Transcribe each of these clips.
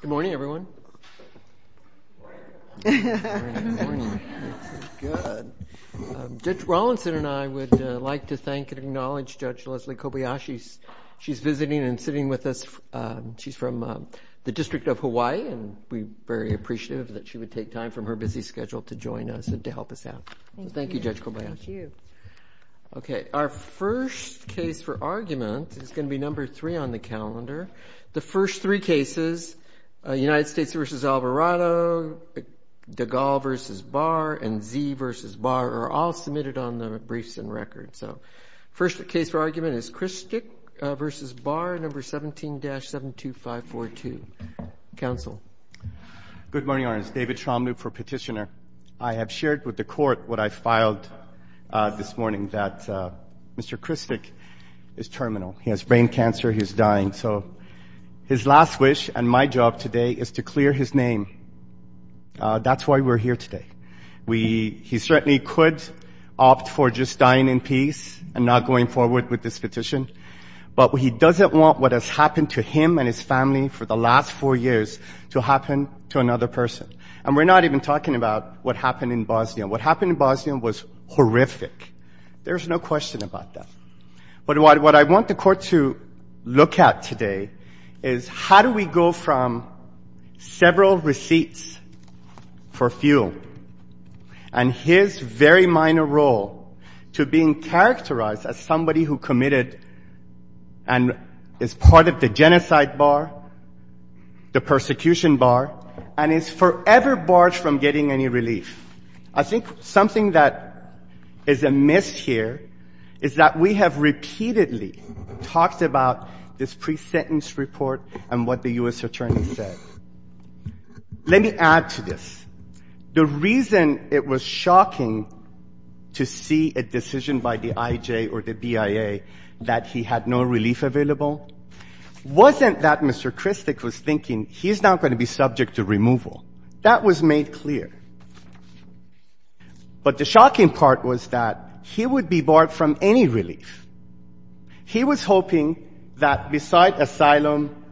Good morning, everyone. Good morning. Good morning. Judge Rawlinson and I would like to thank and acknowledge Judge Leslie Kobayashi. She's visiting and sitting with us. She's from the District of Hawaii, and we're very appreciative that she would take time from her busy schedule to join us and to help us out. Thank you, Judge Kobayashi. Thank you. Okay. Our first case for argument is going to be number three on the calendar. The first three cases, United States v. Alvarado, DeGaulle v. Barr, and Zee v. Barr, are all submitted on the briefs and records. So first case for argument is Krstic v. Barr, number 17-72542. Counsel. Good morning, Your Honor. It's David Tromloop for Petitioner. I have shared with the court what I filed this morning, that Mr. Krstic is terminal. He has brain cancer. He's dying. So his last wish and my job today is to clear his name. That's why we're here today. He certainly could opt for just dying in peace and not going forward with this petition, but he doesn't want what has happened to him and his family for the last four years to happen to another person. And we're not even talking about what happened in Bosnia. What happened in Bosnia was horrific. There's no question about that. But what I want the court to look at today is how do we go from several receipts for fuel and his very minor role to being characterized as somebody who committed and is part of the genocide bar, the persecution bar, and is forever barred from getting any relief. I think something that is amiss here is that we have repeatedly talked about this pre-sentence report and what the U.S. Attorney said. Let me add to this. The reason it was shocking to see a decision by the IJ or the BIA that he had no relief available wasn't that Mr. Kristic was thinking he's not going to be subject to removal. That was made clear. But the shocking part was that he would be barred from any relief. He was hoping that besides asylum,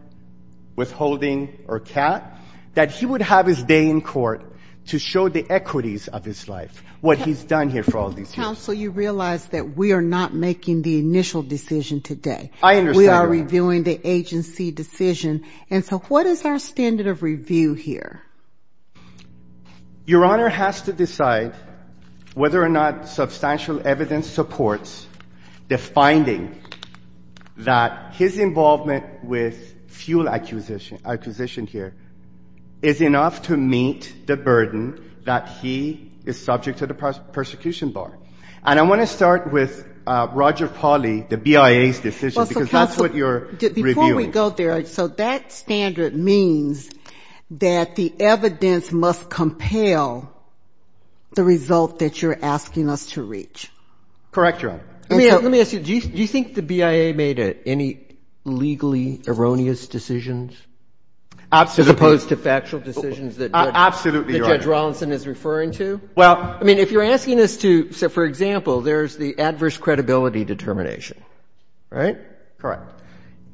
withholding, or CAT, that he would have his day in court to show the equities of his life, what he's done here for all these years. Counsel, you realize that we are not making the initial decision today. I understand. We are reviewing the agency decision. And so what is our standard of review here? Your Honor has to decide whether or not substantial evidence supports the finding that his involvement with fuel acquisition here is enough to meet the burden that he is subject to the persecution bar. And I want to start with Roger Pauly, the BIA's decision, because that's what you're reviewing. Before we go there, so that standard means that the evidence must compel the result that you're asking us to reach. Correct, Your Honor. Let me ask you, do you think the BIA made any legally erroneous decisions? Absolutely. As opposed to factual decisions that Judge Rawlinson is referring to? Absolutely, Your Honor. Well, I mean, if you're asking us to, for example, there's the adverse credibility determination, right? Correct.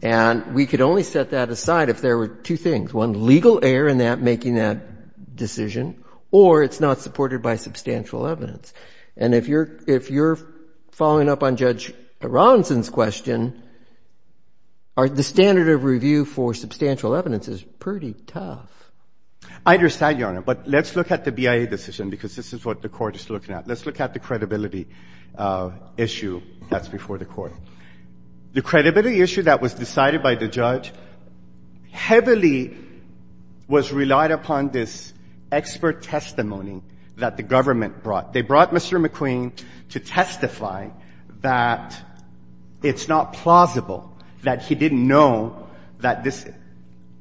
And we could only set that aside if there were two things, one, legal error in that making that decision, or it's not supported by substantial evidence. And if you're following up on Judge Rawlinson's question, the standard of review for substantial evidence is pretty tough. I understand, Your Honor. But let's look at the BIA decision, because this is what the Court is looking at. Let's look at the credibility issue that's before the Court. The credibility issue that was decided by the judge heavily was relied upon this expert testimony that the government brought. They brought Mr. McQueen to testify that it's not plausible that he didn't know that this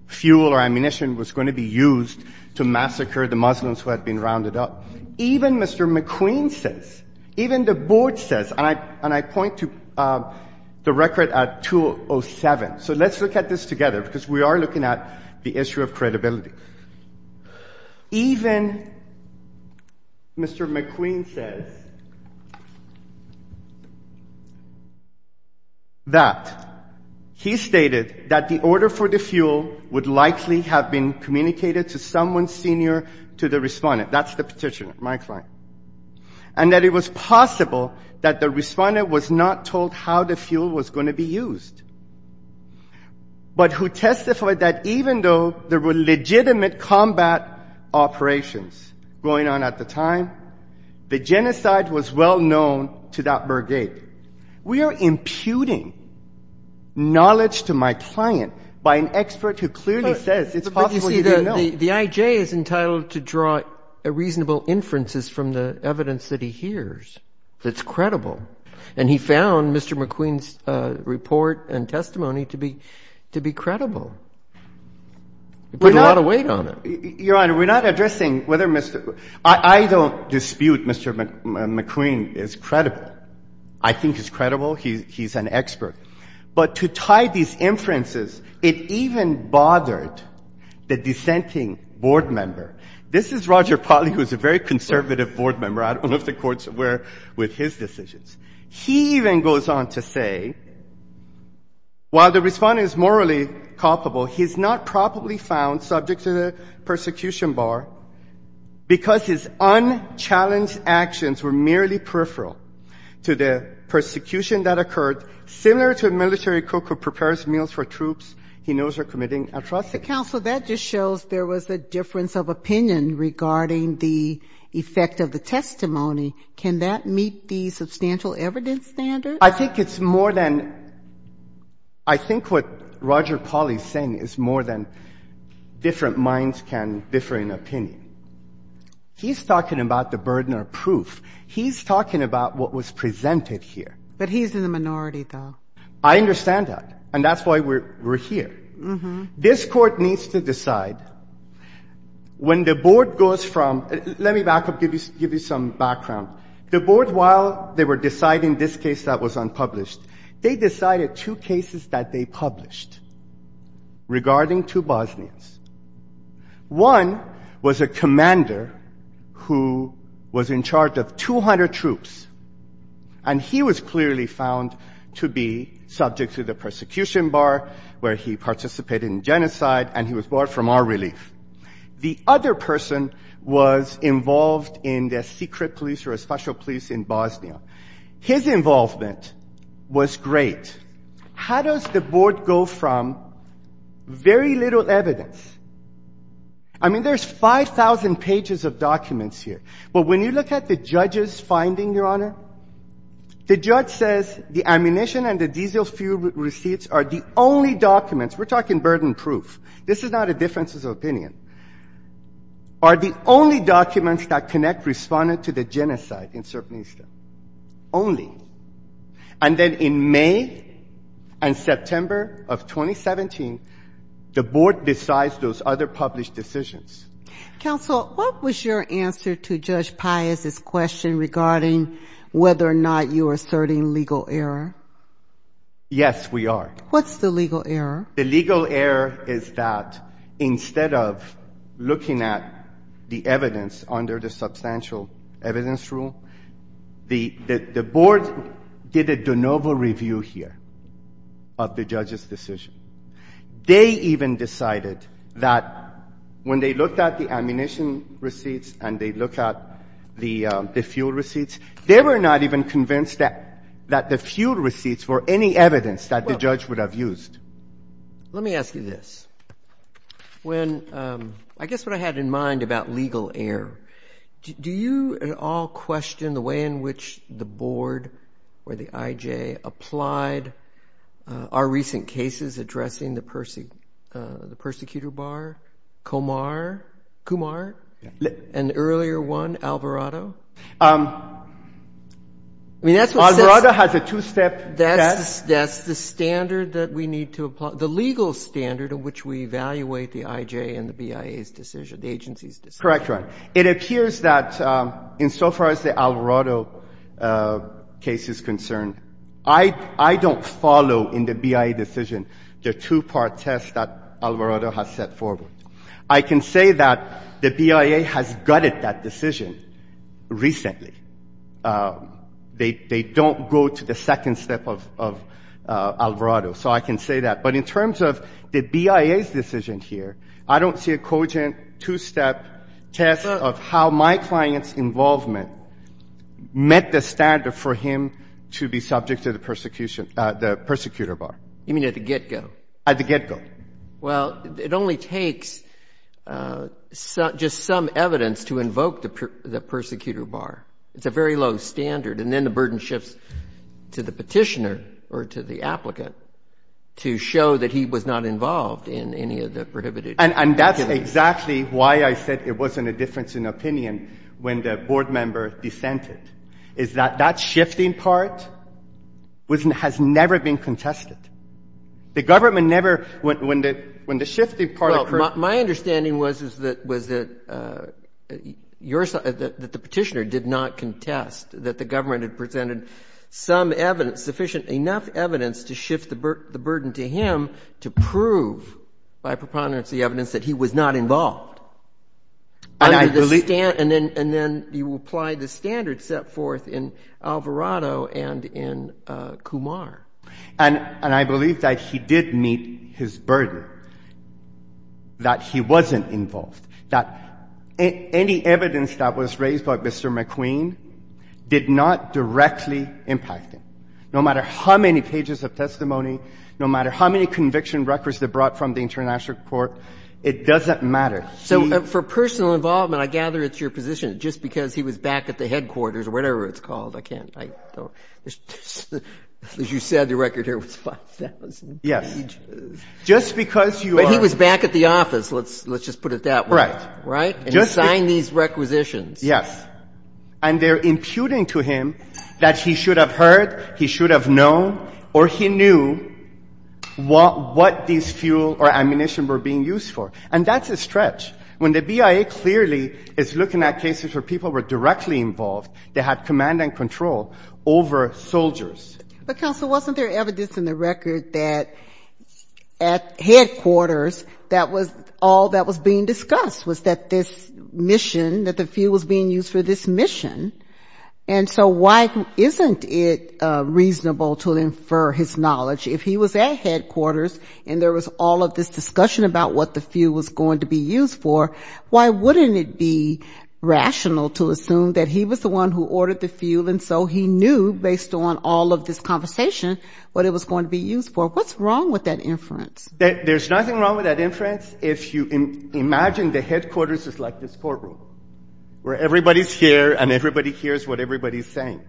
fuel or ammunition was going to be used to massacre the Muslims who had been rounded up. Even Mr. McQueen says, even the Board says, and I point to the record at 207, so let's look at this together, because we are looking at the issue of credibility. Even Mr. McQueen says that he stated that the order for the fuel would likely have been communicated to someone senior to the respondent. That's the petitioner, my client. And that it was possible that the respondent was not told how the fuel was going to be combat operations going on at the time. The genocide was well known to that brigade. We are imputing knowledge to my client by an expert who clearly says it's possible he didn't know. But, you see, the I.J. is entitled to draw reasonable inferences from the evidence that he hears that's credible. And he found Mr. McQueen's report and testimony to be credible. You put a lot of weight on it. Your Honor, we're not addressing whether Mr. — I don't dispute Mr. McQueen is credible. I think he's credible. He's an expert. But to tie these inferences, it even bothered the dissenting board member. This is Roger Polley, who is a very conservative board member. I don't know if the courts were with his decisions. He even goes on to say, while the respondent is morally culpable, he's not probably found subject to the persecution bar because his unchallenged actions were merely peripheral to the persecution that occurred, similar to a military cook who prepares meals for troops he knows are committing atrocities. Counsel, that just shows there was a difference of opinion regarding the effect of the testimony. Can that meet the substantial evidence standard? I think it's more than — I think what Roger Polley is saying is more than different minds can differ in opinion. He's talking about the burden of proof. He's talking about what was presented here. But he's in the minority, though. I understand that. And that's why we're here. This Court needs to decide. When the board goes from — let me back up, give you some background. The board, while they were deciding this case that was unpublished, they decided two cases that they published regarding two Bosnians. One was a commander who was in charge of 200 troops, and he was clearly found to be subject to the persecution bar, where he participated in genocide, and he was brought from our relief. The other person was involved in the secret police or special police in Bosnia. His involvement was great. How does the board go from very little evidence? I mean, there's 5,000 pages of documents here. But when you look at the judge's finding, Your Honor, the judge says the ammunition and the diesel fuel receipts are the only documents — we're talking burden proof. This is not a difference of opinion. Are the only documents that connect Respondent to the genocide in Srebrenica, only. And then in May and September of 2017, the board decides those other published decisions. Counsel, what was your answer to Judge Pius's question regarding whether or not you were asserting legal error? Yes, we are. What's the legal error? The legal error is that instead of looking at the evidence under the substantial evidence rule, the board did a de novo review here of the judge's decision. They even decided that when they looked at the ammunition receipts and they looked at the fuel receipts, they were not even convinced that the fuel receipts were any evidence that the judge would have used. Let me ask you this. I guess what I had in mind about legal error, do you at all question the way in which the board or the IJ applied our recent cases addressing the persecutor bar, Kumar, and the earlier one, Alvarado? Alvarado has a two-step test. That's the standard that we need to apply, the legal standard in which we evaluate the IJ and the BIA's decision, the agency's decision. Correct, Your Honor. It appears that insofar as the Alvarado case is concerned, I don't follow in the BIA decision the two-part test that Alvarado has set forward. I can say that the BIA has gutted that decision recently. They don't go to the second step of Alvarado. So I can say that. But in terms of the BIA's decision here, I don't see a cogent two-step test of how my client's involvement met the standard for him to be subject to the persecution – the persecutor bar. You mean at the get-go? At the get-go. Well, it only takes just some evidence to invoke the persecutor bar. It's a very low standard. And then the burden shifts to the petitioner or to the applicant to show that he was not involved in any of the prohibited activities. And that's exactly why I said it wasn't a difference in opinion when the board member dissented, is that that shifting part has never been contested. The government never – when the shifting part occurred – Well, my understanding was that the petitioner did not contest that the government had presented some evidence, sufficient – enough evidence to shift the burden to him to prove by preponderance the evidence that he was not involved. And I believe – And then you apply the standard set forth in Alvarado and in Kumar. And I believe that he did meet his burden, that he wasn't involved, that any evidence that was raised by Mr. McQueen did not directly impact him, no matter how many pages of testimony, no matter how many conviction records they brought from the International Court. It doesn't matter. So for personal involvement, I gather it's your position, just because he was back at the headquarters or whatever it's called, I can't – I don't – As you said, the record here was 5,000 pages. Yes. Just because you are – But he was back at the office. Let's just put it that way. Right. Right? And he signed these requisitions. Yes. And they're imputing to him that he should have heard, he should have known, or he knew what these fuel or ammunition were being used for. And that's a stretch. When the BIA clearly is looking at cases where people were directly involved, they had command and control over soldiers. But, counsel, wasn't there evidence in the record that at headquarters, that was all that was being discussed, was that this mission, that the fuel was being used for this mission? And so why isn't it reasonable to infer his knowledge? If he was at headquarters and there was all of this discussion about what the fuel was he knew, based on all of this conversation, what it was going to be used for. What's wrong with that inference? There's nothing wrong with that inference if you imagine the headquarters is like this courtroom, where everybody's here and everybody hears what everybody's saying.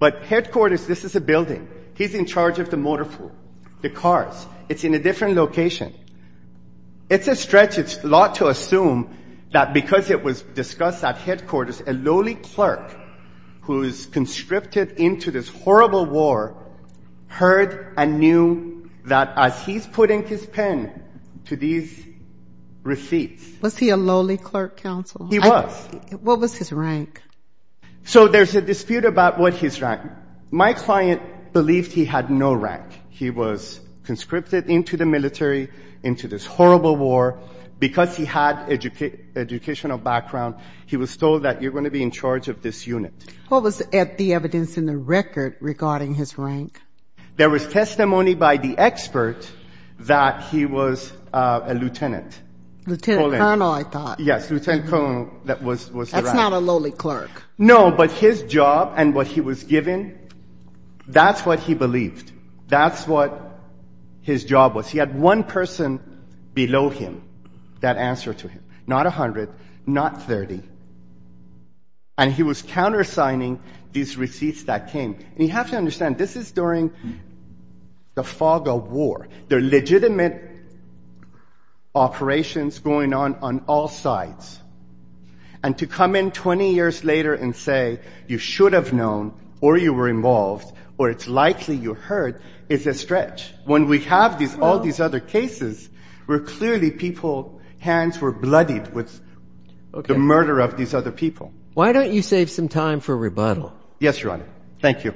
But headquarters, this is a building. He's in charge of the motor pool, the cars. It's in a different location. It's a stretch. It's a lot to assume that because it was discussed at headquarters, a lowly clerk who is conscripted into this horrible war heard and knew that as he's putting his pen to these receipts. Was he a lowly clerk, counsel? He was. What was his rank? So there's a dispute about what his rank. My client believed he had no rank. He was conscripted into the military, into this horrible war. Because he had educational background, he was told that you're going to be in charge of this unit. What was the evidence in the record regarding his rank? There was testimony by the expert that he was a lieutenant. Lieutenant colonel, I thought. Yes, lieutenant colonel was the rank. That's not a lowly clerk. No, but his job and what he was given, that's what he believed. That's what his job was. He had one person below him that answered to him. Not 100, not 30. And he was countersigning these receipts that came. And you have to understand, this is during the fog of war. There are legitimate operations going on on all sides. And to come in 20 years later and say you should have known or you were involved or it's likely you heard is a stretch. When we have all these other cases, where clearly people's hands were bloodied with the murder of these other people. Why don't you save some time for rebuttal? Yes, Your Honor. Thank you.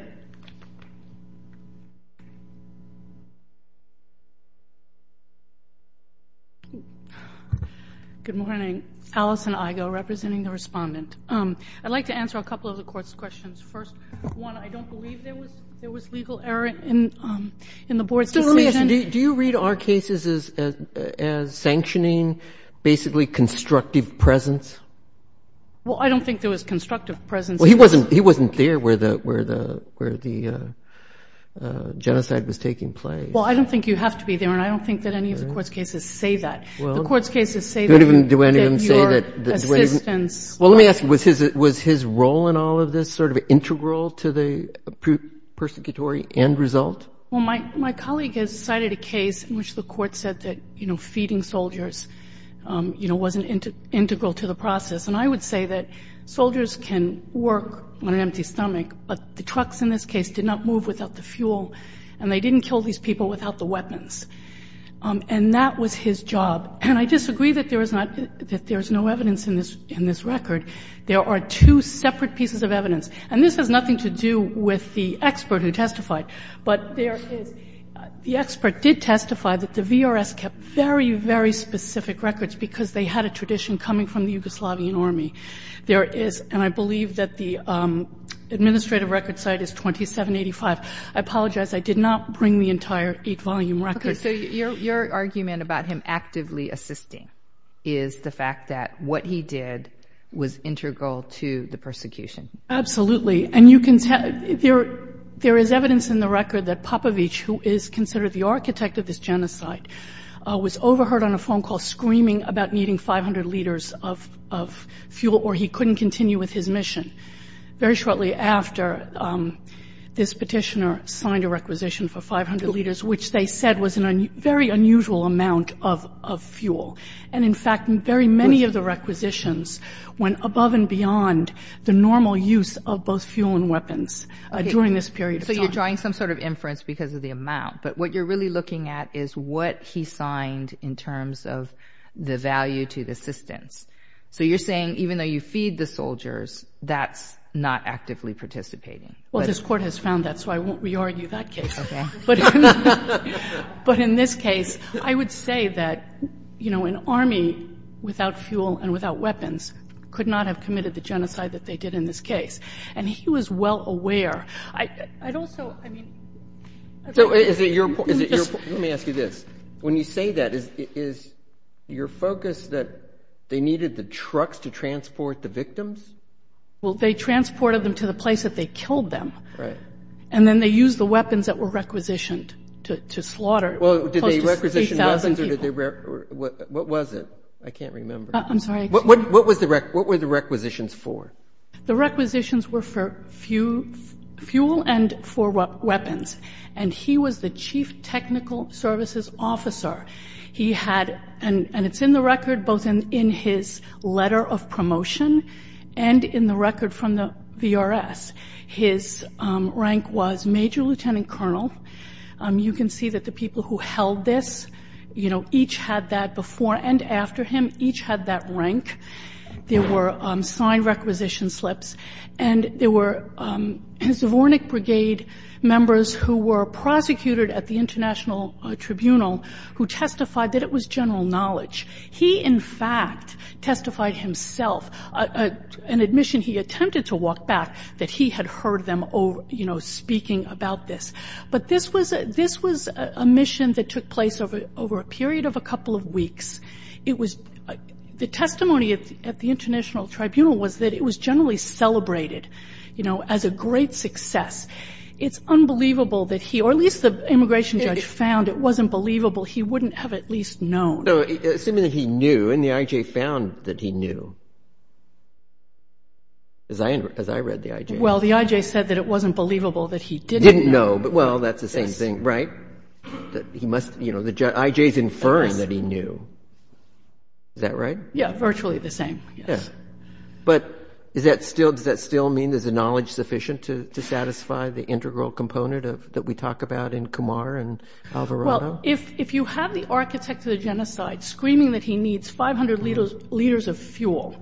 Good morning. Allison Igo, representing the Respondent. I'd like to answer a couple of the Court's questions. First, one, I don't believe there was legal error in the Board's decision. Do you read our cases as sanctioning basically constructive presence? Well, I don't think there was constructive presence. Well, he wasn't there where the genocide was taking place. Well, I don't think you have to be there. And I don't think that any of the Court's cases say that. The Court's cases say that your assistance. Well, let me ask you, was his role in all of this sort of integral to the persecutory end result? Well, my colleague has cited a case in which the Court said that, you know, feeding soldiers, you know, wasn't integral to the process. And I would say that soldiers can work on an empty stomach, but the trucks in this case did not move without the fuel and they didn't kill these people without the weapons. And that was his job. And I disagree that there is not, that there is no evidence in this record. There are two separate pieces of evidence. And this has nothing to do with the expert who testified. But there is, the expert did testify that the VRS kept very, very specific records because they had a tradition coming from the Yugoslavian Army. There is, and I believe that the administrative record site is 2785. I apologize. I did not bring the entire 8-volume record. Okay. So your argument about him actively assisting is the fact that what he did was integral to the persecution. Absolutely. And you can tell, there is evidence in the record that Popovich, who is considered the architect of this genocide, was overheard on a phone call screaming about needing 500 liters of fuel or he couldn't continue with his mission. Very shortly after, this petitioner signed a requisition for 500 liters, which they said was a very unusual amount of fuel. And, in fact, very many of the requisitions went above and beyond the normal use of both fuel and weapons during this period of time. So you're drawing some sort of inference because of the amount. But what you're really looking at is what he signed in terms of the value to the assistance. So you're saying even though you feed the soldiers, that's not actively participating. Well, this Court has found that, so I won't re-argue that case. Okay. But in this case, I would say that, you know, an army without fuel and without weapons could not have committed the genocide that they did in this case. And he was well aware. I'd also, I mean. Is it your point? Let me ask you this. When you say that, is your focus that they needed the trucks to transport the victims? Well, they transported them to the place that they killed them. Right. And then they used the weapons that were requisitioned to slaughter close to 3,000 people. Well, did they requisition weapons or did they requisition? What was it? I can't remember. I'm sorry. What were the requisitions for? The requisitions were for fuel and for weapons. And he was the chief technical services officer. He had, and it's in the record both in his letter of promotion and in the record from the VRS, his rank was major lieutenant colonel. You can see that the people who held this, you know, each had that before and after him, each had that rank. There were signed requisition slips. And there were his Zvornik Brigade members who were prosecuted at the international tribunal who testified that it was general knowledge. He, in fact, testified himself. An admission he attempted to walk back that he had heard them, you know, speaking about this. But this was a mission that took place over a period of a couple of weeks. It was, the testimony at the international tribunal was that it was generally celebrated, you know, as a great success. It's unbelievable that he, or at least the immigration judge found it wasn't believable. He wouldn't have at least known. No, assuming that he knew and the IJ found that he knew, as I read the IJ. Well, the IJ said that it wasn't believable that he didn't know. Well, that's the same thing, right? He must, you know, the IJ is inferring that he knew. Is that right? Yeah, virtually the same, yes. But is that still, does that still mean there's a knowledge sufficient to satisfy the integral component that we talk about in Kumar and Alvarado? Well, if you have the architect of the genocide screaming that he needs 500 liters of fuel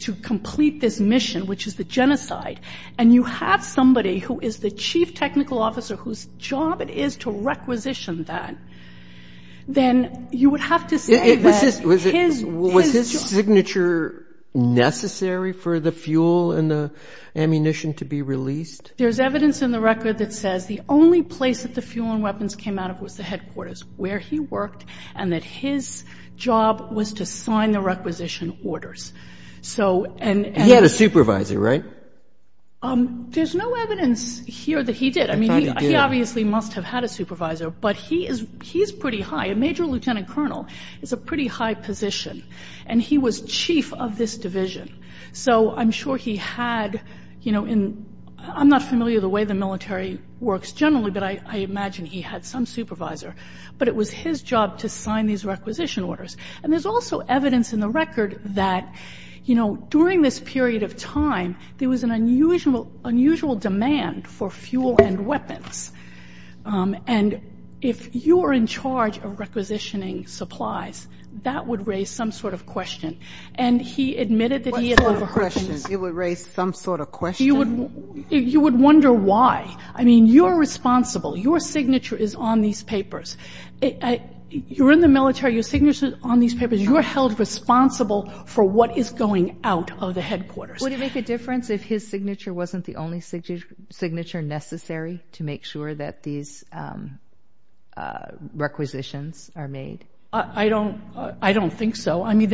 to complete this mission, which is the genocide, and you have somebody who is the chief technical officer whose job it is to requisition that, then you would have to say that his job. Was his signature necessary for the fuel and the ammunition to be released? There's evidence in the record that says the only place that the fuel and weapons came out of was the headquarters, where he worked, and that his job was to sign the requisition orders. He had a supervisor, right? There's no evidence here that he did. I thought he did. I mean, he obviously must have had a supervisor, but he is pretty high. A major lieutenant colonel is a pretty high position. And he was chief of this division. So I'm sure he had, you know, in, I'm not familiar the way the military works generally, but I imagine he had some supervisor. But it was his job to sign these requisition orders. And there's also evidence in the record that, you know, during this period of time, there was an unusual demand for fuel and weapons. And if you are in charge of requisitioning supplies, that would raise some sort of question. And he admitted that he had overheard this. What sort of question? It would raise some sort of question? You would wonder why. I mean, you're responsible. Your signature is on these papers. You're in the military. Your signature is on these papers. You're held responsible for what is going out of the headquarters. Would it make a difference if his signature wasn't the only signature necessary to make sure that these requisitions are made? I don't think so. I mean,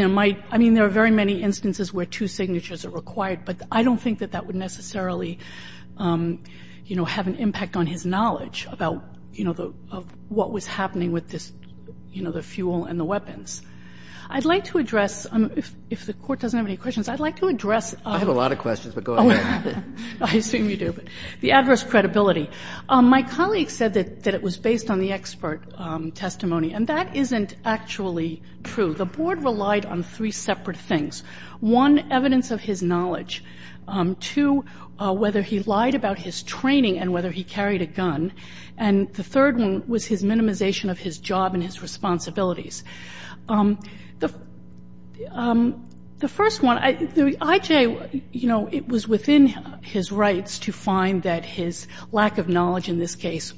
there are very many instances where two signatures are required. But I don't think that that would necessarily, you know, have an impact on his knowledge about, you know, what was happening with this, you know, the fuel and the weapons. I'd like to address, if the Court doesn't have any questions, I'd like to address a lot of questions, but go ahead. I assume you do. The adverse credibility. My colleague said that it was based on the expert testimony. And that isn't actually true. The Board relied on three separate things. One, evidence of his knowledge. Two, whether he lied about his training and whether he carried a gun. And the third one was his minimization of his job and his responsibilities. The first one, the IJ, you know, it was within his rights to find that his lack of knowledge in this case,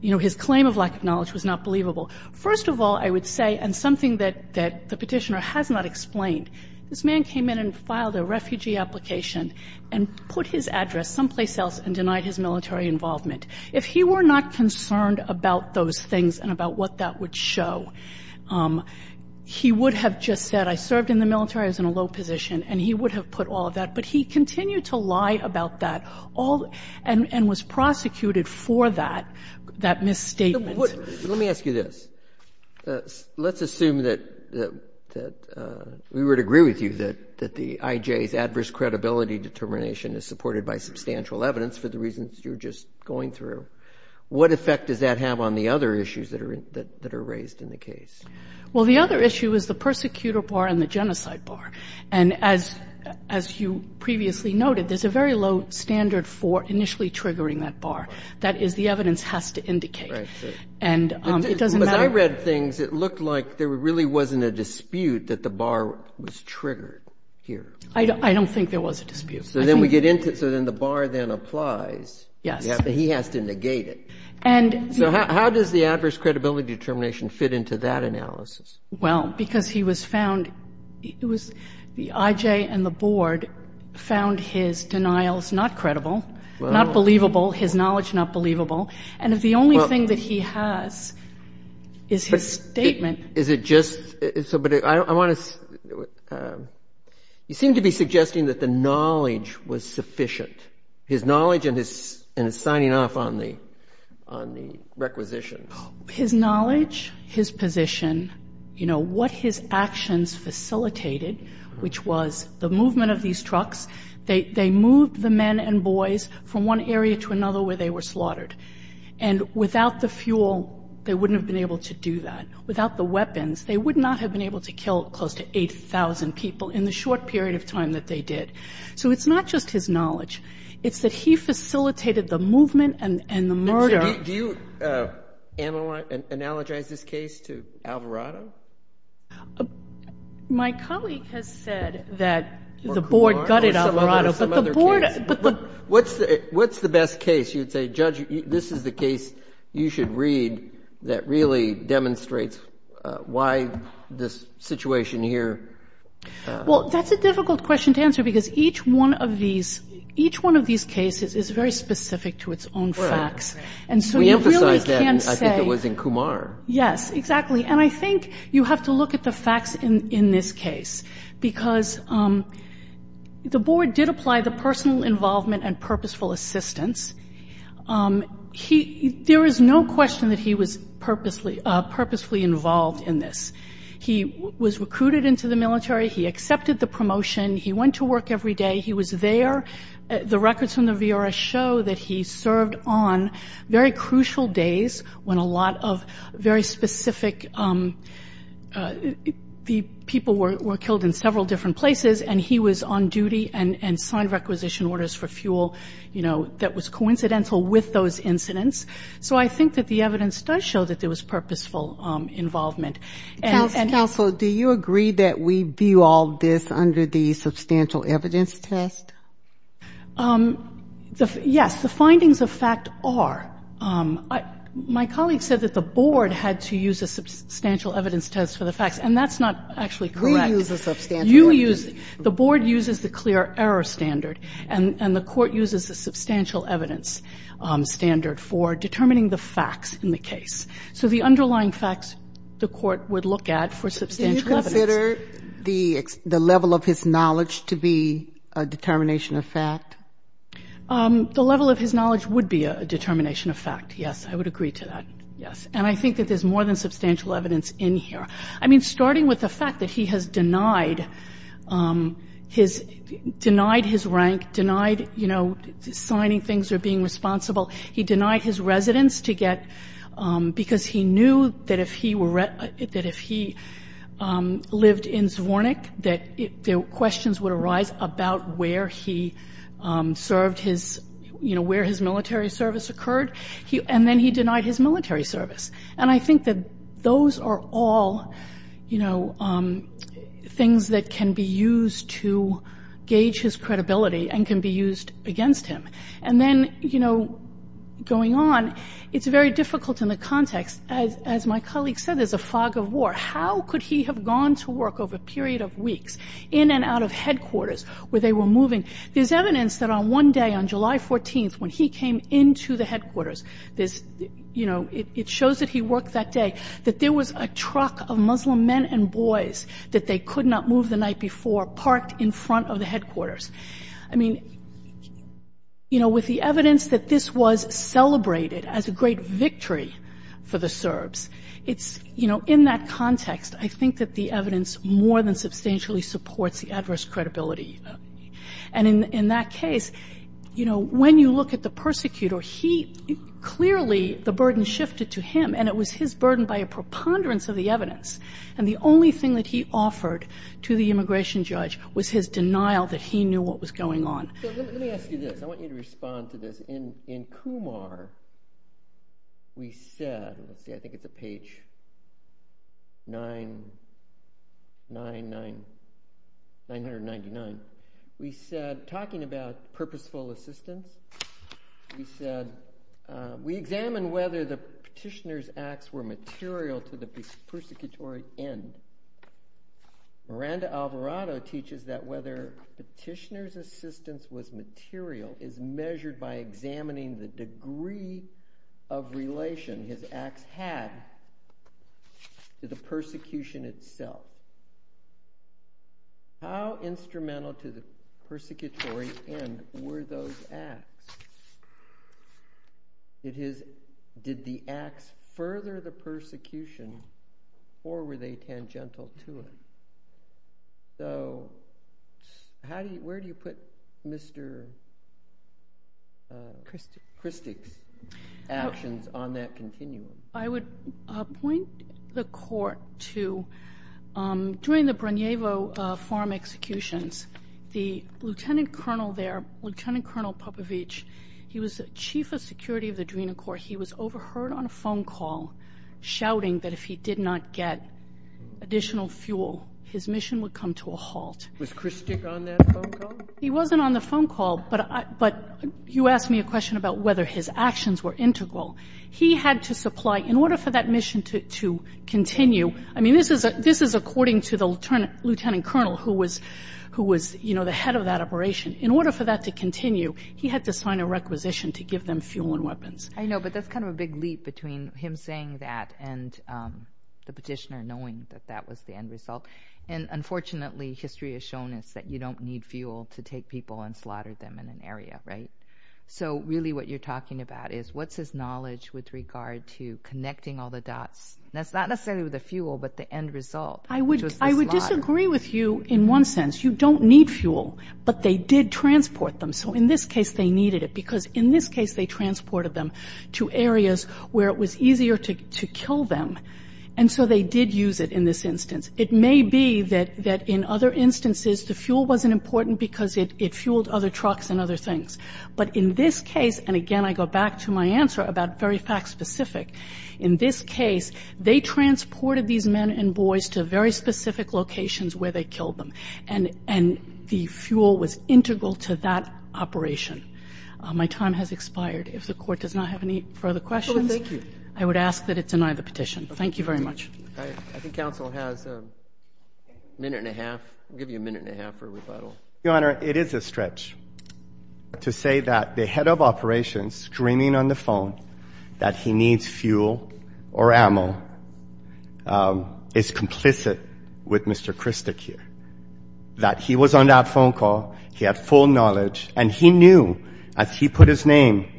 you know, his claim of lack of knowledge was not believable. First of all, I would say, and something that the Petitioner has not explained, this man came in and filed a refugee application and put his address someplace else and denied his military involvement. If he were not concerned about those things and about what that would show, he would have just said, I served in the military, I was in a low position, and he would have put all of that. But he continued to lie about that all and was prosecuted for that, that misstatement. Let me ask you this. Let's assume that we would agree with you that the IJ's adverse credibility determination is supported by substantial evidence for the reasons you're just going through. What effect does that have on the other issues that are raised in the case? Well, the other issue is the persecutor bar and the genocide bar. And as you previously noted, there's a very low standard for initially triggering that bar. That is, the evidence has to indicate. And it doesn't matter. But as I read things, it looked like there really wasn't a dispute that the bar was triggered here. I don't think there was a dispute. So then we get into it. So then the bar then applies. Yes. But he has to negate it. So how does the adverse credibility determination fit into that analysis? Well, because he was found, it was the IJ and the board found his denials not credible, not believable, his knowledge not believable. And if the only thing that he has is his statement. Is it just so, but I want to, you seem to be suggesting that the knowledge was sufficient, his knowledge and his signing off on the requisitions. His knowledge, his position, you know, what his actions facilitated, which was the movement of these trucks. They moved the men and boys from one area to another where they were slaughtered. And without the fuel, they wouldn't have been able to do that. Without the weapons, they would not have been able to kill close to 8,000 people in the short period of time that they did. So it's not just his knowledge. It's that he facilitated the movement and the murder. Do you analogize this case to Alvarado? My colleague has said that the board gutted Alvarado. What's the best case you would say, judge, this is the case you should read that really demonstrates why this situation here? Well, that's a difficult question to answer because each one of these, each one of these cases is very specific to its own facts. And so you really can't say. We emphasized that, I think it was in Kumar. Yes, exactly. And I think you have to look at the facts in this case because the board did apply the personal involvement and purposeful assistance. There is no question that he was purposefully involved in this. He was recruited into the military. He accepted the promotion. He went to work every day. He was there. The records from the VRS show that he served on very crucial days when a lot of very specific people were killed in several different places. And he was on duty and signed requisition orders for fuel, you know, that was coincidental with those incidents. So I think that the evidence does show that there was purposeful involvement. Counsel, do you agree that we view all this under the substantial evidence test? Yes. The findings of fact are. My colleague said that the board had to use a substantial evidence test for the facts, and that's not actually correct. We use a substantial evidence test. You use. The board uses the clear error standard, and the court uses the substantial evidence standard for determining the facts in the case. So the underlying facts, the court would look at for substantial evidence. Do you consider the level of his knowledge to be a determination of fact? The level of his knowledge would be a determination of fact, yes. I would agree to that, yes. And I think that there's more than substantial evidence in here. I mean, starting with the fact that he has denied his rank, denied signing things or being responsible. He denied his residence because he knew that if he lived in Zvornik, that questions would arise about where he served his, you know, where his military service occurred. And then he denied his military service. And I think that those are all, you know, things that can be used to gauge his credibility and can be used against him. And then, you know, going on, it's very difficult in the context. As my colleague said, there's a fog of war. How could he have gone to work over a period of weeks, in and out of headquarters where they were moving? There's evidence that on one day, on July 14th, when he came into the headquarters, there's, you know, it shows that he worked that day, that there was a truck of Muslim men and boys that they could not move the night before parked in front of the headquarters. I mean, you know, with the evidence that this was celebrated as a great victory for the Serbs, it's, you know, in that context, I think that the evidence more than substantially supports the adverse credibility. And in that case, you know, when you look at the persecutor, he clearly, the burden shifted to him, and it was his burden by a preponderance of the evidence. And the only thing that he offered to the immigration judge was his denial that he knew what was going on. So let me ask you this. I want you to respond to this. In Kumar, we said, let's see, I think it's a page 999, we said, talking about purposeful assistance, we said, we examined whether the petitioner's acts were material to the persecutory end. Miranda Alvarado teaches that whether petitioner's assistance was material is measured by examining the degree of relation his acts had to the persecution itself. How instrumental to the persecutory end were those acts? Did the acts further the persecution, or were they tangential to it? So where do you put Mr. Christick's actions on that continuum? I would point the court to during the Brunjevo farm executions, the lieutenant colonel there, Lieutenant Colonel Popovich, he was chief of security of the Drina Corps. He was overheard on a phone call shouting that if he did not get additional fuel, his mission would come to a halt. Was Christick on that phone call? He wasn't on the phone call. But you asked me a question about whether his actions were integral. He had to supply, in order for that mission to continue, I mean, this is according to the lieutenant colonel who was, you know, the head of that operation. In order for that to continue, he had to sign a requisition to give them fuel and weapons. I know, but that's kind of a big leap between him saying that and the petitioner knowing that that was the end result. And unfortunately, history has shown us that you don't need fuel to take people and slaughter them in an area, right? So really what you're talking about is what's his knowledge with regard to connecting all the dots? That's not necessarily the fuel, but the end result, which was the slaughter. I would disagree with you in one sense. You don't need fuel, but they did transport them. So in this case, they needed it, because in this case, they transported them to areas where it was easier to kill them. And so they did use it in this instance. It may be that in other instances, the fuel wasn't important because it fueled other trucks and other things. But in this case, and again, I go back to my answer about very fact-specific. In this case, they transported these men and boys to very specific locations where they killed them. And the fuel was integral to that operation. My time has expired. If the Court does not have any further questions, I would ask that it deny the petition. Thank you very much. I think counsel has a minute and a half. I'll give you a minute and a half for rebuttal. Your Honor, it is a stretch to say that the head of operations screaming on the phone that he needs fuel or ammo is complicit with Mr. Christek here, that he was on that phone call, he had full knowledge, and he knew as he put his name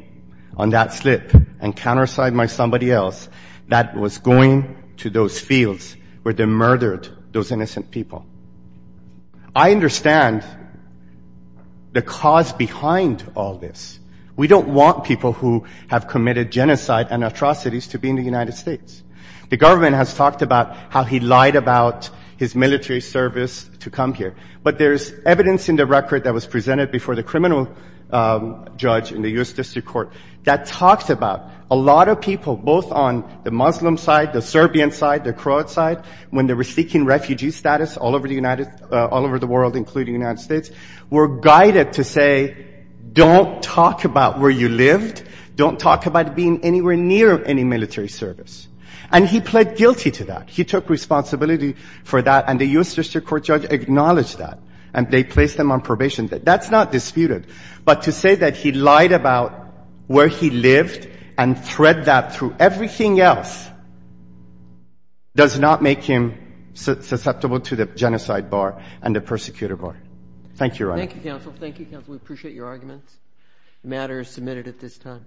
on that slip and countersigned by somebody else that it was going to those fields where they murdered those innocent people. I understand the cause behind all this. We don't want people who have committed genocide and atrocities to be in the United States. The government has talked about how he lied about his military service to come here. But there's evidence in the record that was presented before the criminal judge in the U.S. District Court that talks about a lot of people, both on the Muslim side, the Serbian side, the Croat side, when they were seeking refugee status all over the world, including the United States, were guided to say, don't talk about where you lived, don't talk about being anywhere near any military service. And he pled guilty to that. He took responsibility for that, and the U.S. District Court judge acknowledged that, and they placed him on probation. That's not disputed. But to say that he lied about where he lived and thread that through everything else does not make him susceptible to the genocide bar and the persecutor bar. Thank you, Your Honor. Thank you, counsel. Thank you, counsel. We appreciate your arguments. The matter is submitted at this time.